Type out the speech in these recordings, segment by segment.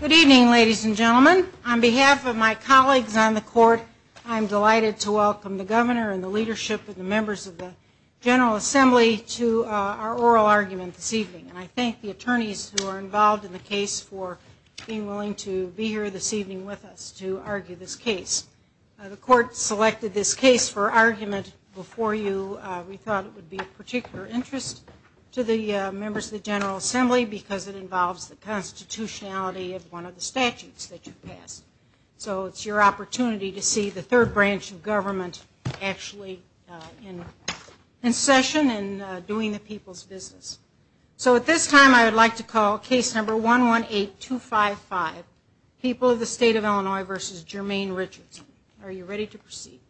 Good evening, ladies and gentlemen. On behalf of my colleagues on the Court, I'm delighted to welcome the Governor and the leadership of the members of the General Assembly to our oral argument this evening. I thank the attorneys who are involved in the case for being willing to be here this evening with us to argue this case. The Court selected this case for argument before you. We thought it would be of particular interest to the members of the General Assembly because it involves the constitutionality of one of the statutes that you passed. So it's your opportunity to see the third branch of government actually in session and doing the people's business. So at this time I would like to call case number 118255, People of the State of Illinois v. Jermaine Richardson. Are you ready to proceed?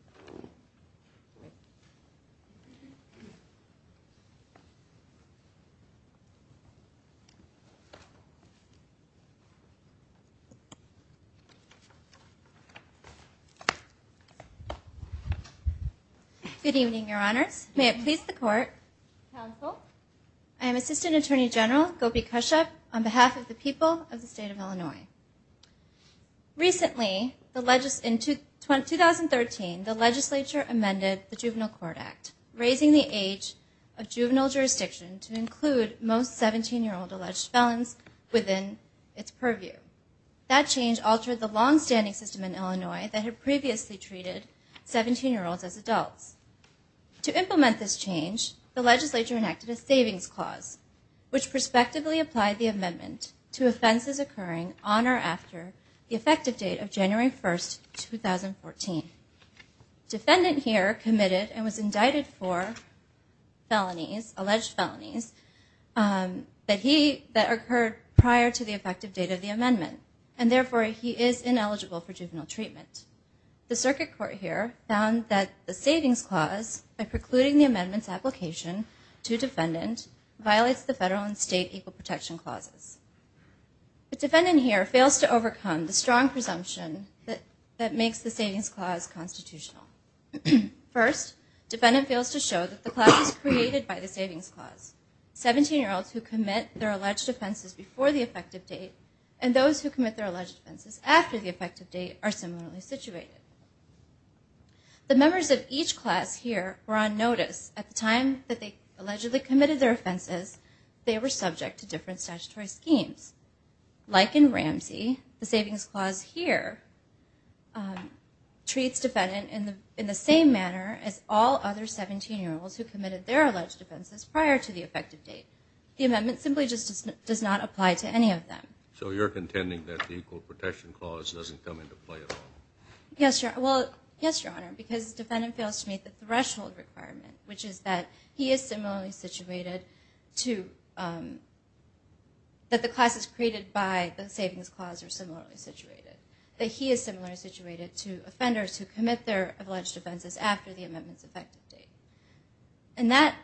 Good evening, Your Honors. May it please the Court. Counsel. I am Assistant Attorney General Gopi Kashyap on behalf of the People of the State of Illinois. Recently, in 2013, the legislature amended the Juvenile Court Act, raising the age of juvenile jurisdiction to include most 17-year-old alleged felons within its purview. That change altered the longstanding system in Illinois that had previously treated 17-year-olds as adults. To implement this change, the legislature enacted a savings clause, which prospectively applied the amendment to offenses occurring on or after the effective date of January 1, 2014. Defendant here committed and was indicted for alleged felonies that occurred prior to the effective date of the amendment, and therefore he is ineligible for juvenile treatment. The circuit court here found that the savings clause, by precluding the amendment's application to defendant, violates the federal and state equal protection clauses. The defendant here fails to overcome the strong presumption that makes the savings clause constitutional. First, defendant fails to show that the clause was created by the savings clause. 17-year-olds who commit their alleged offenses before the effective date and those who commit their alleged offenses after the effective date are similarly situated. The members of each class here were on notice. At the time that they allegedly committed their offenses, they were subject to different statutory schemes. Like in Ramsey, the savings clause here treats defendant in the same manner as all other 17-year-olds who committed their alleged offenses prior to the effective date. The amendment simply does not apply to any of them. So you're contending that the equal protection clause doesn't come into play at all? Yes, Your Honor, because defendant fails to meet the threshold requirement, which is that he is similarly situated to that the classes created by the savings clause are similarly situated. That he is similarly situated to offenders who commit their alleged offenses after the amendment's effective date. And that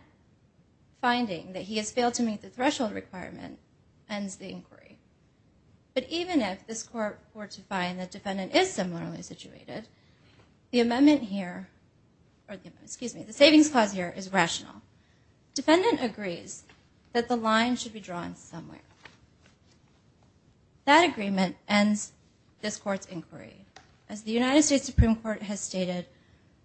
finding, that he has failed to meet the threshold requirement, ends the inquiry. But even if this Court were to find that defendant is similarly situated, the amendment here, excuse me, the savings clause here is rational. Defendant agrees that the line should be drawn somewhere. That agreement ends this Court's inquiry. As the United States Supreme Court has stated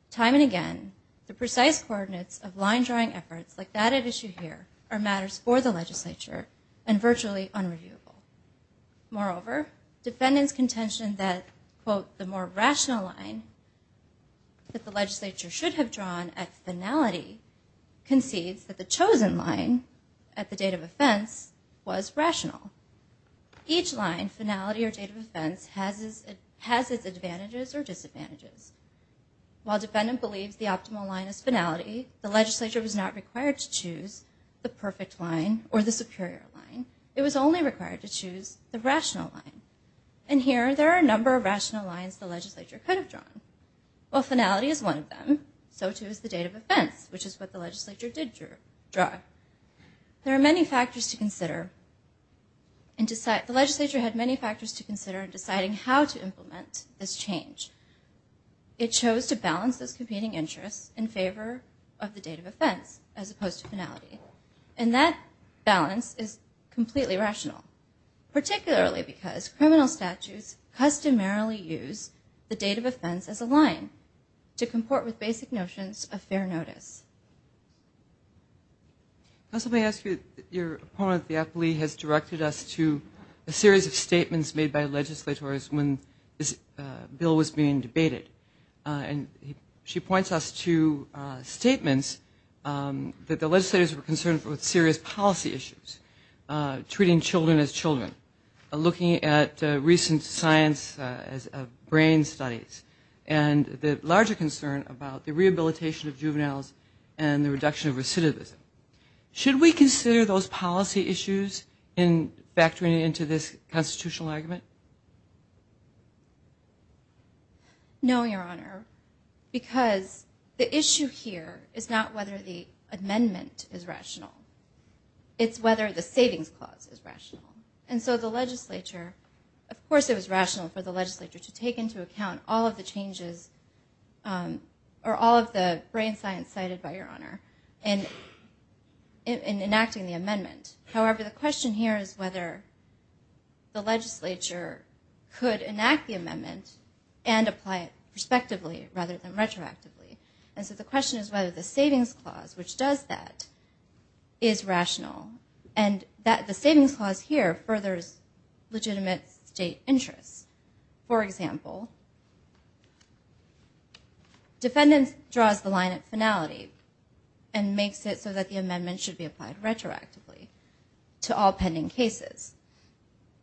time and again, the precise coordinates of line-drawing efforts like that at issue here are matters for the legislature and virtually unreviewable. Moreover, defendant's contention that, quote, the more rational line that the legislature should have drawn at finality, concedes that the chosen line at the date of offense was rational. Each line, finality or date of offense, has its advantages or disadvantages. While defendant believes the optimal line is finality, the legislature was not required to choose the perfect line or the superior line. It was only required to choose the rational line. And here, there are a number of rational lines the legislature could have drawn. While finality is one of them, so too is the date of offense, which is what the legislature did draw. There are many factors to consider. The legislature had many factors to consider in deciding how to implement this change. It chose to balance those competing interests in favor of the date of offense as opposed to finality. And that balance is completely rational, particularly because criminal statutes customarily use the date of offense as a line to comport with basic notions of fair notice. Let me ask you, your opponent, the appellee, has directed us to a series of statements made by legislators when this bill was being debated. And she points us to statements that the legislators were concerned with serious policy issues, treating children as children, looking at recent science of brain studies, and the larger concern about the rehabilitation of juveniles and the reduction of recidivism. Should we consider those policy issues in factoring into this constitutional argument? No, your honor, because the issue here is not whether the amendment is rational. It's whether the savings clause is rational. And so the legislature, of course it was rational for the legislature to take into account all of the changes, or all of the brain science cited by your honor, in enacting the amendment. However, the question here is whether the legislature could enact the amendment and apply it prospectively rather than retroactively. And so the question is whether the savings clause, which does that, is rational. And the savings clause here furthers legitimate state interests. For example, defendants draws the line at finality and makes it so that the amendment should be applied retroactively to all pending cases,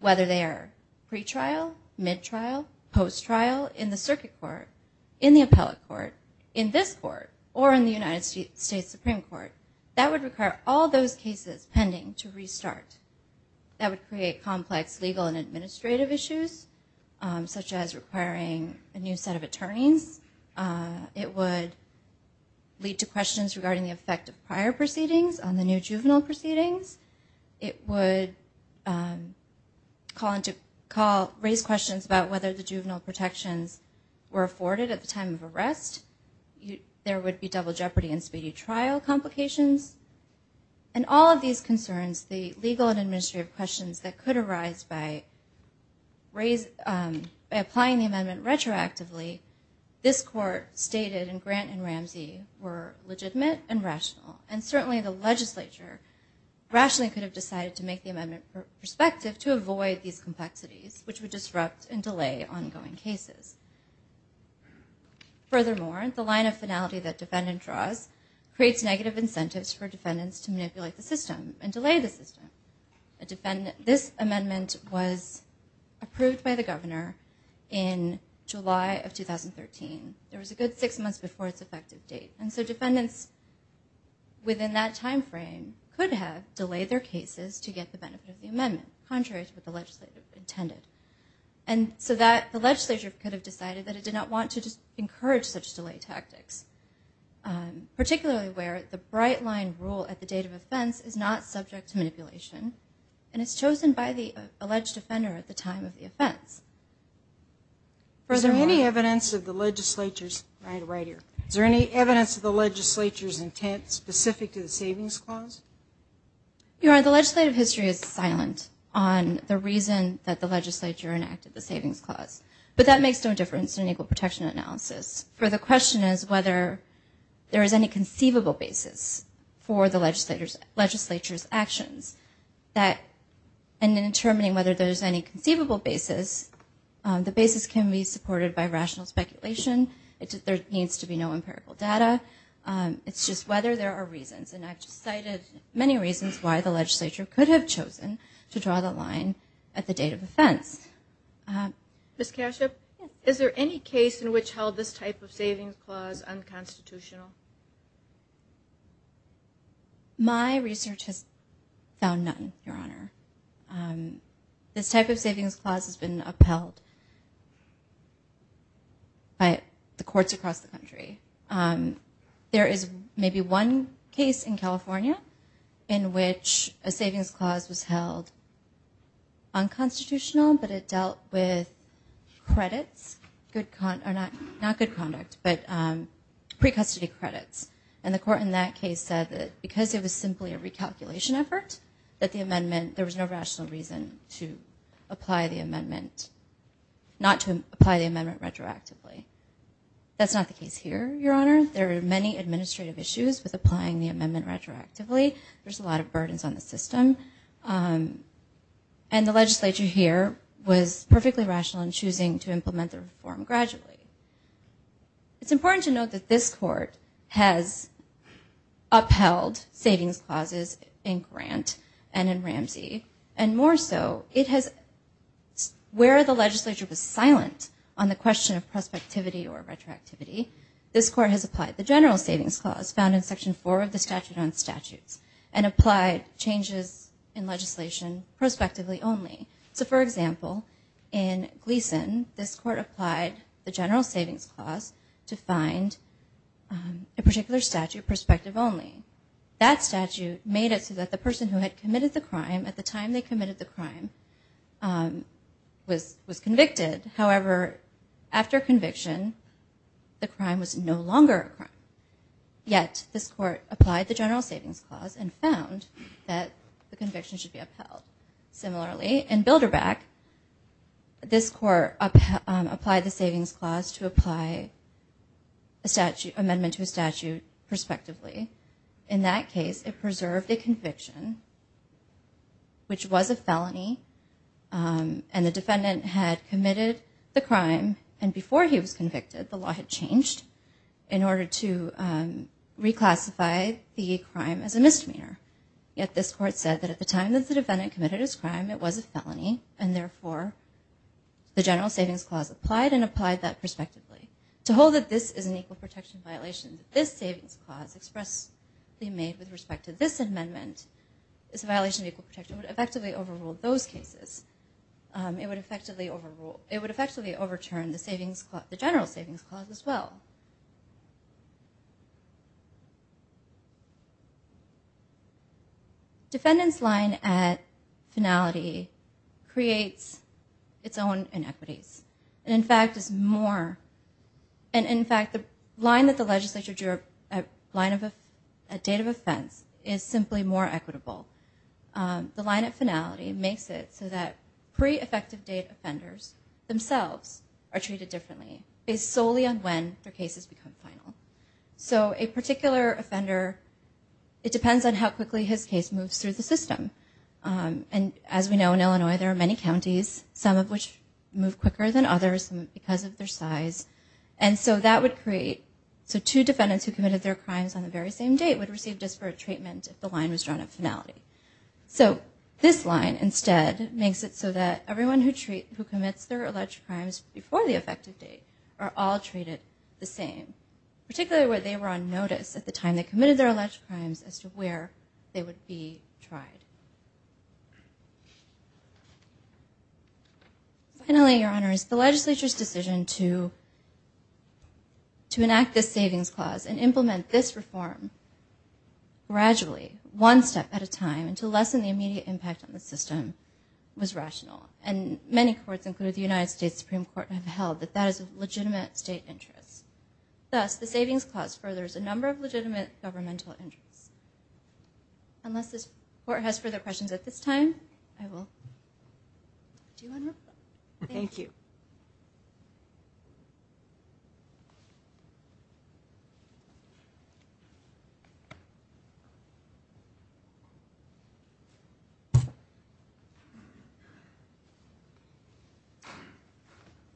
whether they are pretrial, midtrial, posttrial, in the circuit court, in the appellate court, in this court, or in the United States Supreme Court. That would require all those cases pending to restart. That would create complex legal and administrative issues, such as requiring a new set of attorneys. It would lead to questions regarding the effect of prior proceedings on the new juvenile proceedings. It would raise questions about whether the juvenile protections were afforded at the time of arrest. There would be double jeopardy and speedy trial complications. And all of these concerns, the legal and administrative questions that could arise by applying the amendment retroactively, this court stated in Grant and Ramsey were legitimate and rational. And certainly the legislature rationally could have decided to make the amendment prospective to avoid these complexities, which would disrupt and delay ongoing cases. Furthermore, the line of finality that defendant draws creates negative incentives for defendants to manipulate the system and delay the system. This amendment was approved by the governor in July of 2013. There was a good six months before its effective date. And so defendants within that time frame could have delayed their cases to get the benefit of the amendment, contrary to what the legislature intended. And so the legislature could have decided that it did not want to encourage such delay tactics, particularly where the bright line rule at the date of offense is not subject to manipulation and is chosen by the alleged offender at the time of the offense. Is there any evidence of the legislature's intent specific to the savings clause? The legislative history is silent on the reason that the legislature enacted the savings clause. But that makes no difference in equal protection analysis. The question is whether there is any conceivable basis for the legislature's actions. In determining whether there is any conceivable basis, the basis can be supported by rational speculation. There needs to be no empirical data. It's just whether there are reasons. And I've cited many reasons why the legislature could have chosen to draw the line at the date of offense. Ms. Kashub, is there any case in which held this type of savings clause unconstitutional? My research has found none, Your Honor. This type of savings clause has been upheld by the courts across the country. There is maybe one case in California in which a savings clause was held unconstitutional, but it dealt with pre-custody credits. And the court in that case said that because it was simply a recalculation effort, that there was no rational reason not to apply the amendment retroactively. That's not the case here, Your Honor. There are many administrative issues with applying the amendment retroactively. There's a lot of burdens on the system. And the legislature here was perfectly rational in choosing to implement the reform gradually. It's important to note that this court has upheld savings clauses in Grant and in Ramsey, and more so, where the legislature was silent on the question of prospectivity or retroactivity, this court has applied the general savings clause found in Section 4 of the Statute on Statutes and applied changes in legislation prospectively only. So, for example, in Gleason, this court applied the general savings clause to find a particular statute prospective only. That statute made it so that the person who had committed the crime at the time they committed the crime was convicted. However, after conviction, the crime was no longer a crime. Yet, this court applied the general savings clause and found that the conviction should be upheld. Similarly, in Bilderbach, this court applied the savings clause to apply an amendment to a statute prospectively. In that case, it preserved a conviction, which was a felony, and the defendant had committed the crime, and before he was convicted, the law had changed in order to reclassify the crime as a misdemeanor. Yet, this court said that at the time that the defendant committed his crime, it was a felony, and therefore, the general savings clause applied and applied that prospectively. To hold that this is an equal protection violation, this savings clause expressly made with respect to this amendment, this violation of equal protection would effectively overrule those cases. It would effectively overturn the general savings clause as well. Defendant's line at finality creates its own inequities. In fact, the line that the legislature drew up at date of offense is simply more equitable. The line at finality makes it so that pre-effective date offenders themselves are treated differently based solely on when their cases become final. So a particular offender, it depends on how quickly his case moves through the system. And as we know, in Illinois, there are many counties, some of which move quicker than others because of their size. And so that would create, so two defendants who committed their crimes on the very same date would receive disparate treatment if the line was drawn at finality. So this line instead makes it so that everyone who commits their alleged crimes before the effective date are all treated the same, particularly where they were on notice at the time they committed their alleged crimes as to where they would be tried. Finally, Your Honors, the legislature's decision to enact this savings clause and implement this reform gradually, one step at a time, and to lessen the immediate impact on the system was rational. And many courts, including the United States Supreme Court, have held that that is of legitimate state interest. Thus, the savings clause furthers a number of legitimate governmental interests. Unless this court has further questions at this time, I will do my report. Thank you.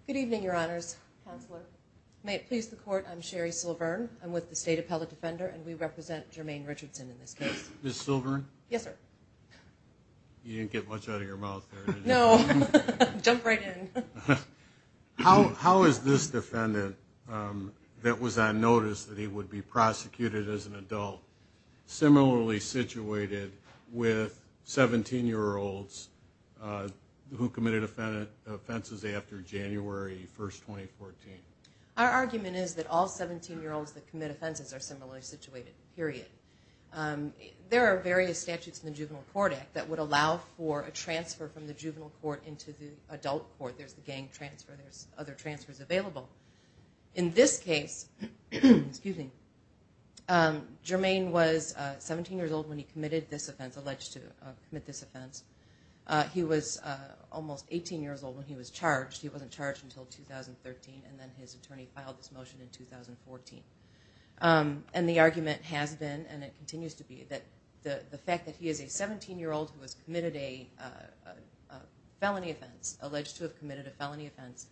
Good evening, Your Honors. Counselor. May it please the Court, I'm Sherri Silverne. I'm with the State Appellate Defender, and we represent Jermaine Richardson in this case. Ms. Silverne? Yes, sir. You didn't get much out of your mouth there, did you? No. Jump right in. Our argument is that all 17-year-olds that commit offenses are similarly situated, period. There are various statutes in the Juvenile Court Act that would allow for a transfer from the juvenile court into the adult court. There's the gang transfer. There's other transfers available. In this case, Jermaine was 17 years old when he committed this offense, alleged to commit this offense. He was almost 18 years old when he was charged. He wasn't charged until 2013, and then his attorney filed this motion in 2014. And the argument has been, and it continues to be, that the fact that he is a 17-year-old who has committed a felony offense, alleged to have committed a felony offense,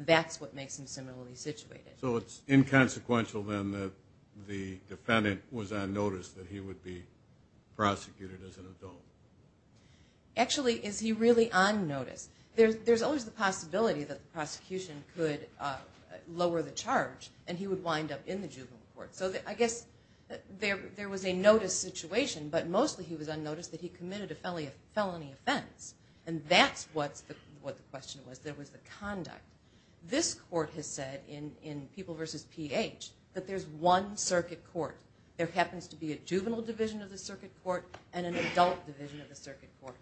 that's what makes him similarly situated. So it's inconsequential, then, that the defendant was on notice that he would be prosecuted as an adult. Actually, is he really on notice? There's always the possibility that the prosecution could lower the charge and he would wind up in the juvenile court. So I guess there was a notice situation, but mostly he was on notice that he committed a felony offense. And that's what the question was. There was the conduct. This court has said in People v. PH that there's one circuit court. There happens to be a juvenile division of the circuit court and an adult division of the circuit court,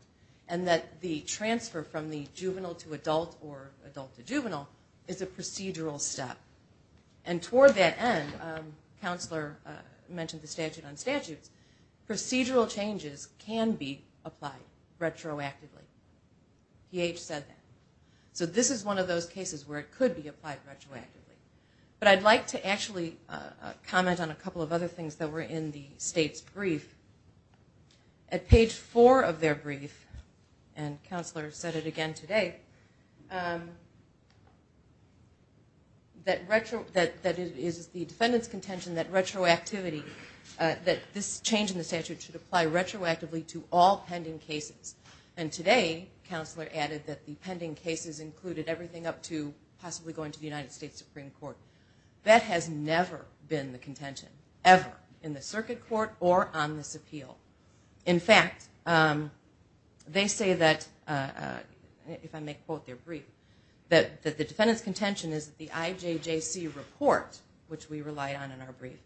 and that the transfer from the juvenile to adult or adult to juvenile is a procedural step. And toward that end, the counselor mentioned the statute on statutes, procedural changes can be applied retroactively. PH said that. So this is one of those cases where it could be applied retroactively. But I'd like to actually comment on a couple of other things that were in the state's brief. At page 4 of their brief, and counselor said it again today, that it is the defendant's contention that retroactivity, that this change in the statute should apply retroactively to all pending cases. And today, counselor added that the pending cases included everything up to possibly going to the United States Supreme Court. That has never been the contention, ever, in the circuit court or on this appeal. In fact, they say that, if I may quote their brief, that the defendant's contention is that the IJJC report, which we relied on in our brief,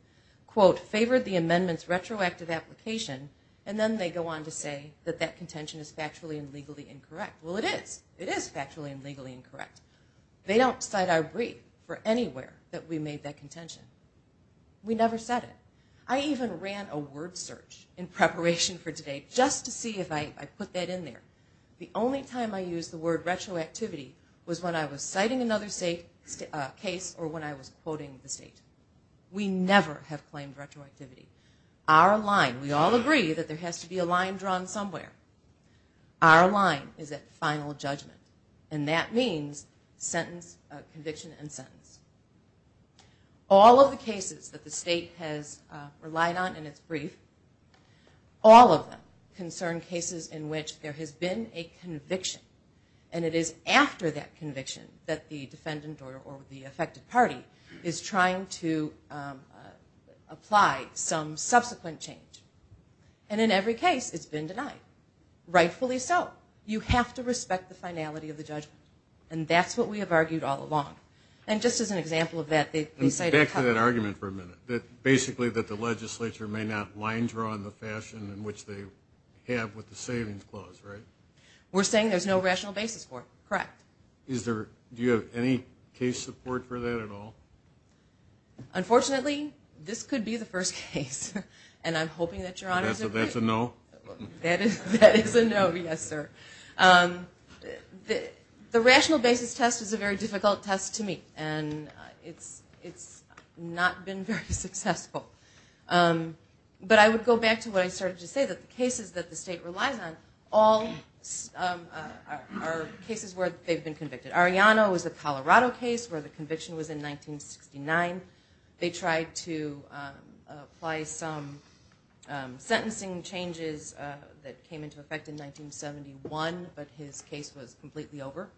quote, favored the amendment's retroactive application, and then they go on to say that that contention is factually and legally incorrect. Well, it is. It is factually and legally incorrect. They don't cite our brief for anywhere that we made that contention. We never said it. I even ran a word search in preparation for today just to see if I put that in there. The only time I used the word retroactivity was when I was citing another case or when I was quoting the state. We never have claimed retroactivity. Our line, we all agree that there has to be a line drawn somewhere. Our line is at final judgment, and that means conviction and sentence. All of the cases that the state has relied on in its brief, all of them concern cases in which there has been a conviction, and it is after that conviction that the defendant or the affected party is trying to apply some subsequent change. And in every case, it's been denied, rightfully so. You have to respect the finality of the judgment, and that's what we have argued all along. And just as an example of that, they cite our copy. Back to that argument for a minute, that basically that the legislature may not line draw in the fashion in which they have with the savings clause, right? We're saying there's no rational basis for it. Correct. Do you have any case support for that at all? Unfortunately, this could be the first case, and I'm hoping that Your Honors will approve. That's a no? That is a no, yes, sir. The rational basis test is a very difficult test to meet, and it's not been very successful. But I would go back to what I started to say, that the cases that the state relies on are cases where they've been convicted. Arellano is a Colorado case where the conviction was in 1969. They tried to apply some sentencing changes that came into effect in 1971, but his case was completely over,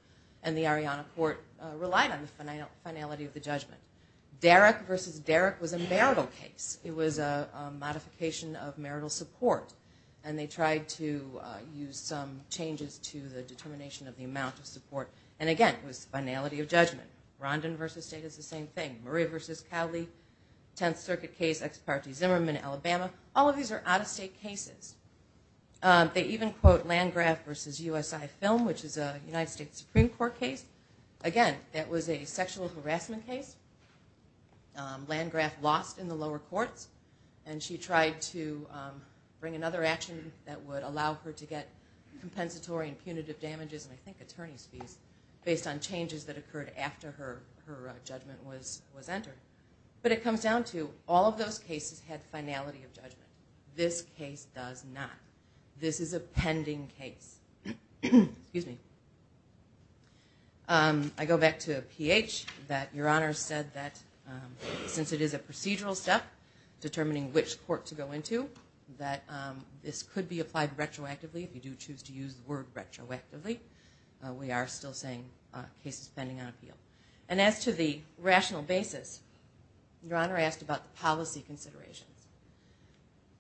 and the Arellano court relied on the finality of the judgment. Derrick v. Derrick was a marital case. It was a modification of marital support, and they tried to use some changes to the determination of the amount of support. And again, it was finality of judgment. Rondin v. State is the same thing. Maria v. Cowley, 10th Circuit case, ex parte Zimmerman, Alabama. All of these are out-of-state cases. They even quote Landgraf v. USI Film, which is a United States Supreme Court case. Again, that was a sexual harassment case. Landgraf lost in the lower courts, and she tried to bring another action that would allow her to get compensatory and punitive damages, and I think attorney's fees, based on changes that occurred after her judgment was entered. But it comes down to all of those cases had finality of judgment. This case does not. This is a pending case. Excuse me. I go back to Ph. Your Honor said that since it is a procedural step determining which court to go into, that this could be applied retroactively. If you do choose to use the word retroactively, we are still saying case is pending on appeal. And as to the rational basis, Your Honor asked about the policy considerations.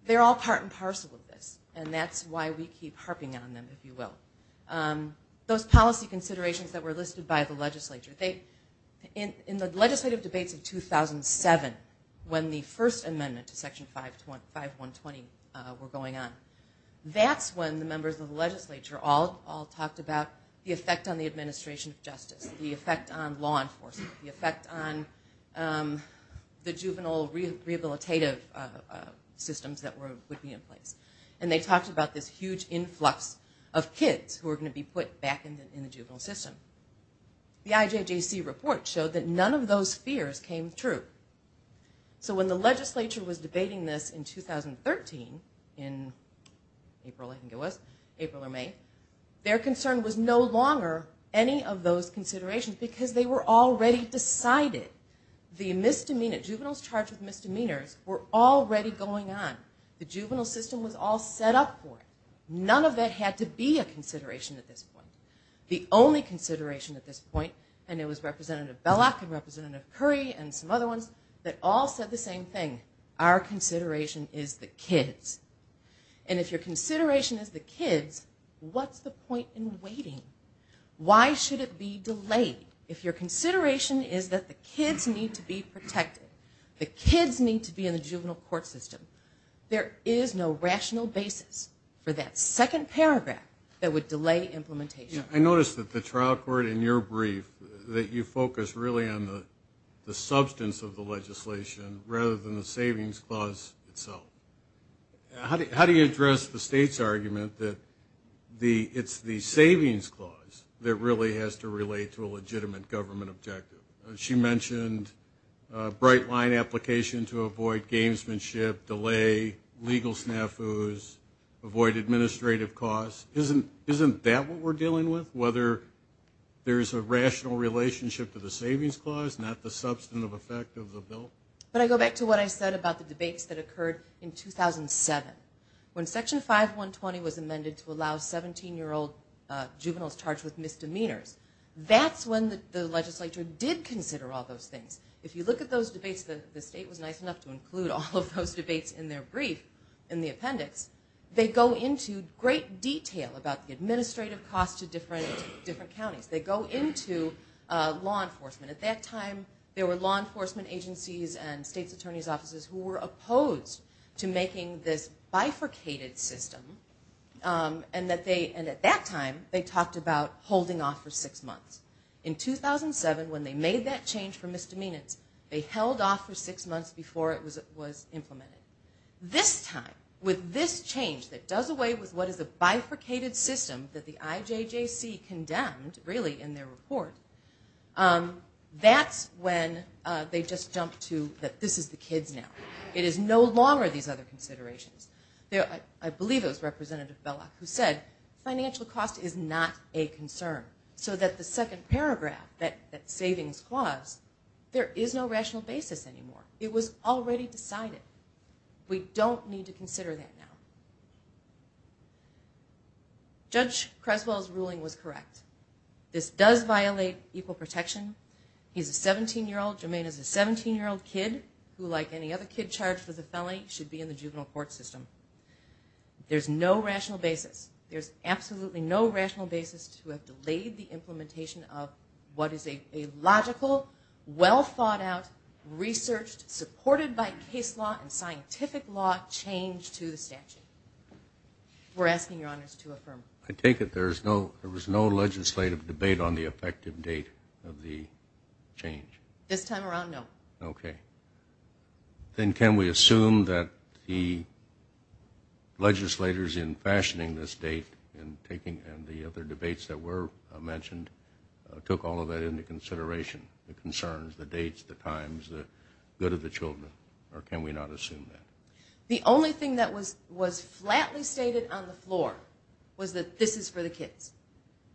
They're all part and parcel of this, and that's why we keep harping on them, if you will. Those policy considerations that were listed by the legislature. In the legislative debates of 2007, when the first amendment to Section 5120 were going on, that's when the members of the legislature all talked about the effect on the administration of justice, the effect on law enforcement, the effect on the juvenile rehabilitative systems that would be in place. And they talked about this huge influx of kids who were going to be put back in the juvenile system. The IJJC report showed that none of those fears came true. So when the legislature was debating this in 2013, in April, I think it was, April or May, their concern was no longer any of those considerations because they were already decided. The misdemeanor, juveniles charged with misdemeanors, were already going on. The juvenile system was all set up for it. None of that had to be a consideration at this point. The only consideration at this point, and it was Representative Bellock and Representative Curry and some other ones that all said the same thing, our consideration is the kids. And if your consideration is the kids, what's the point in waiting? Why should it be delayed if your consideration is that the kids need to be protected? The kids need to be in the juvenile court system. There is no rational basis for that second paragraph that would delay implementation. I noticed that the trial court in your brief, that you focus really on the substance of the legislation rather than the savings clause itself. How do you address the state's argument that it's the savings clause that really has to relate to a legitimate government objective? She mentioned a bright-line application to avoid gamesmanship, delay, legal snafus, avoid administrative costs. Isn't that what we're dealing with, whether there's a rational relationship to the savings clause, not the substantive effect of the bill? But I go back to what I said about the debates that occurred in 2007. When Section 5120 was amended to allow 17-year-old juveniles charged with misdemeanors, that's when the legislature did consider all those things. If you look at those debates, the state was nice enough to include all of those debates in their brief in the appendix. They go into great detail about the administrative costs to different counties. They go into law enforcement. At that time, there were law enforcement agencies and states' attorneys' offices who were opposed to making this bifurcated system. And at that time, they talked about holding off for six months. In 2007, when they made that change for misdemeanors, they held off for six months before it was implemented. This time, with this change that does away with what is a bifurcated system that the IJJC condemned, really, in their report, that's when they just jumped to that this is the kids now. It is no longer these other considerations. I believe it was Representative Bellock who said, financial cost is not a concern, so that the second paragraph, that savings clause, there is no rational basis anymore. It was already decided. We don't need to consider that now. Judge Creswell's ruling was correct. This does violate equal protection. He's a 17-year-old, Jermaine is a 17-year-old kid who, like any other kid charged with a felony, should be in the juvenile court system. There's no rational basis. There's absolutely no rational basis to have delayed the implementation of what is a logical, well-thought-out, researched, supported by case law and scientific law change to the statute. We're asking your honors to affirm. I take it there was no legislative debate on the effective date of the change? This time around, no. Okay. Then can we assume that the legislators in fashioning this date and the other debates that were mentioned took all of that into consideration, the concerns, the dates, the times, the good of the children? Or can we not assume that? The only thing that was flatly stated on the floor was that this is for the kids.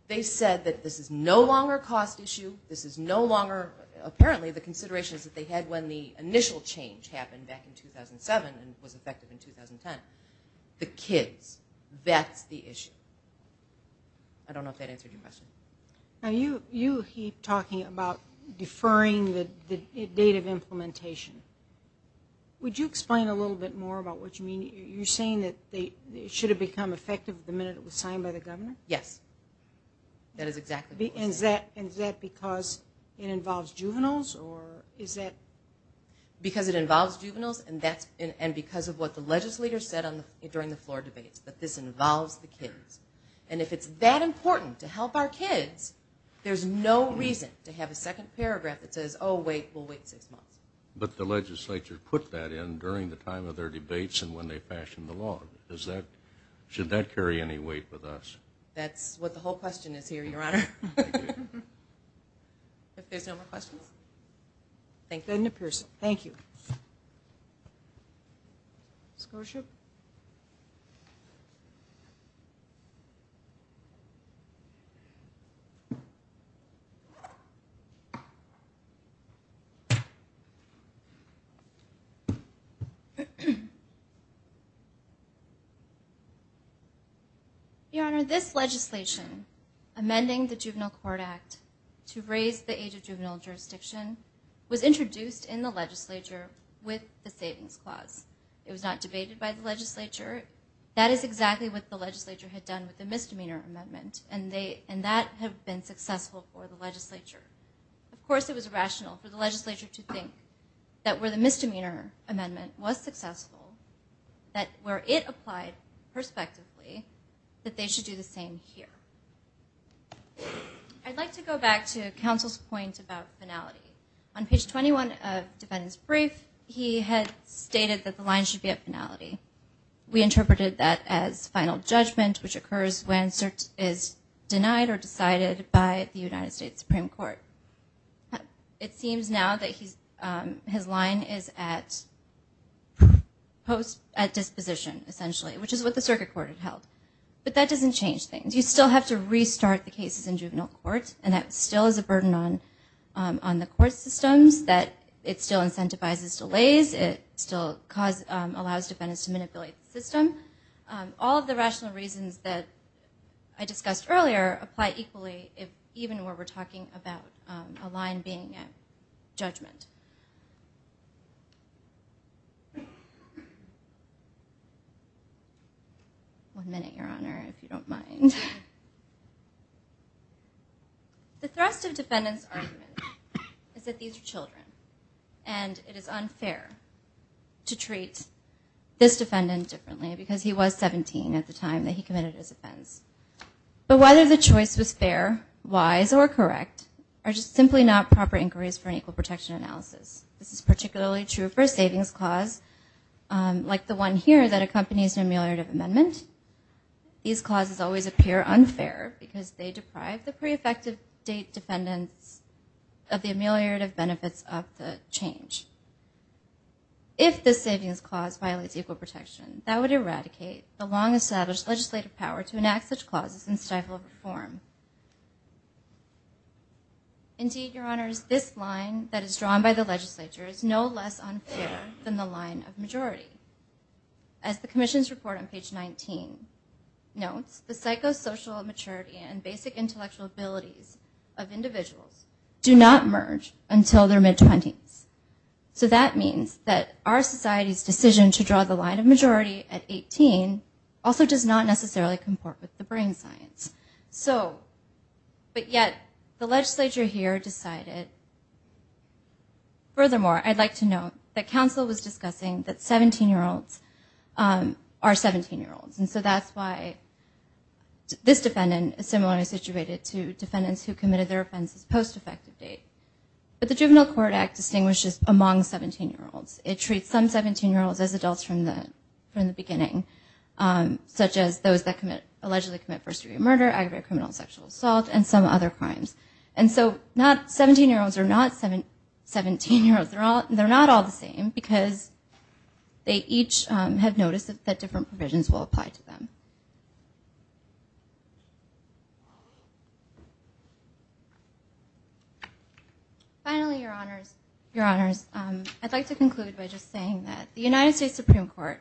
They said that this is no longer a cost issue, this is no longer... The initial change happened back in 2007 and was effective in 2010. The kids, that's the issue. I don't know if that answered your question. Now you keep talking about deferring the date of implementation. Would you explain a little bit more about what you mean? You're saying that it should have become effective the minute it was signed by the governor? Yes. That is exactly right. And is that because it involves juveniles? Because it involves juveniles and because of what the legislators said during the floor debates, that this involves the kids. And if it's that important to help our kids, there's no reason to have a second paragraph that says, oh, wait, we'll wait six months. But the legislature put that in during the time of their debates and when they fashioned the law. Should that carry any weight with us? That's what the whole question is here, Your Honor. If there's no more questions. Thank you. Your Honor, this legislation, amending the Juvenile Court Act to raise the age of juvenile jurisdiction, was introduced in the legislature with the savings clause. It was not debated by the legislature. That is exactly what the legislature had done with the misdemeanor amendment. And that had been successful for the legislature. Of course, it was rational for the legislature to think that where the misdemeanor amendment was successful, that where it applied prospectively, that they should do the same here. I'd like to go back to counsel's point about finality. On page 21 of defendant's brief, he had stated that the line should be at finality. We interpreted that as final judgment, which occurs when cert is denied or decided by the United States Supreme Court. It seems now that his line is at disposition, essentially, which is what the circuit court had held. But that doesn't change things. You still have to restart the cases in juvenile court, and that still is a burden on the court systems, that it still incentivizes delays, it still allows defendants to manipulate the system. All of the rational reasons that I discussed earlier apply equally even where we're talking about a line being at judgment. One minute, Your Honor, if you don't mind. The thrust of defendant's argument is that these are children, and it is unfair to treat this defendant differently, because he was 17 at the time that he committed his offense. But whether the choice was fair, wise, or correct, are just simply not proper inquiries for an equal protection analysis. This is particularly true for a savings clause, like the one here that accompanies an ameliorative amendment. These clauses always appear unfair because they deprive the pre-effective date defendants of the ameliorative benefits of the change. If the savings clause violates equal protection, that would eradicate the long-established legislative power to enact such clauses and stifle reform. Indeed, Your Honors, this line that is drawn by the legislature is no less unfair than the line of majority. As the commission's report on page 19 notes, the psychosocial maturity and basic intellectual abilities of individuals do not merge until their mid-20s. So that means that our society's decision to draw the line of majority at 18 also does not necessarily comport with the brain science. So, but yet, the legislature here decided... I'd like to note that counsel was discussing that 17-year-olds are 17-year-olds, and so that's why this defendant is similarly situated to defendants who committed their offenses post-effective date. But the Juvenile Court Act distinguishes among 17-year-olds. It treats some 17-year-olds as adults from the beginning, such as those that allegedly commit first-degree murder, aggravated criminal and sexual assault, and some other crimes. And so 17-year-olds are not 17-year-olds. They're not all the same, because they each have noticed that different provisions will apply to them. Finally, Your Honors, I'd like to conclude by just saying that the United States Supreme Court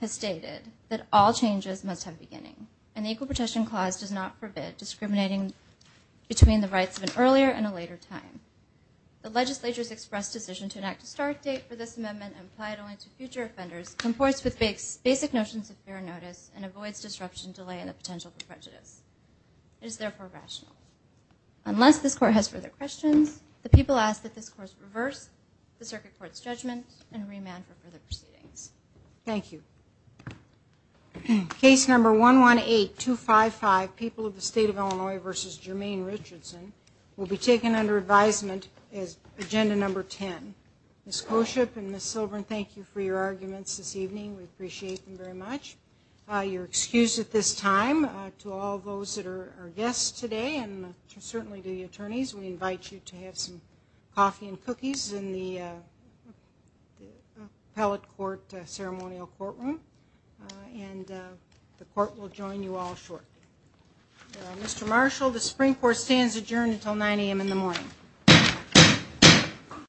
has stated that all changes must have a beginning, and the Equal Protection Clause does not forbid discriminating between the rights of an earlier and a later time. The legislature's express decision to enact a start date for this amendment and apply it only to future offenders conforts with basic notions of fair notice and avoids disruption, delay, and the potential for prejudice. It is therefore rational. Unless this Court has further questions, the people ask that this Court reverse the Circuit Court's judgment and remand for further proceedings. Thank you. Case number 118255, People of the State of Illinois v. Jermaine Richardson, will be taken under advisement as Agenda Number 10. Ms. Koshyp and Ms. Silbern, thank you for your arguments this evening. We appreciate them very much. You're excused at this time. To all those that are guests today, and certainly to the attorneys, we invite you to have some coffee and cookies in the Appellate Court Ceremonial Courtroom, and the Court will join you all shortly. Mr. Marshall, the Supreme Court stands adjourned until 9 a.m. in the morning.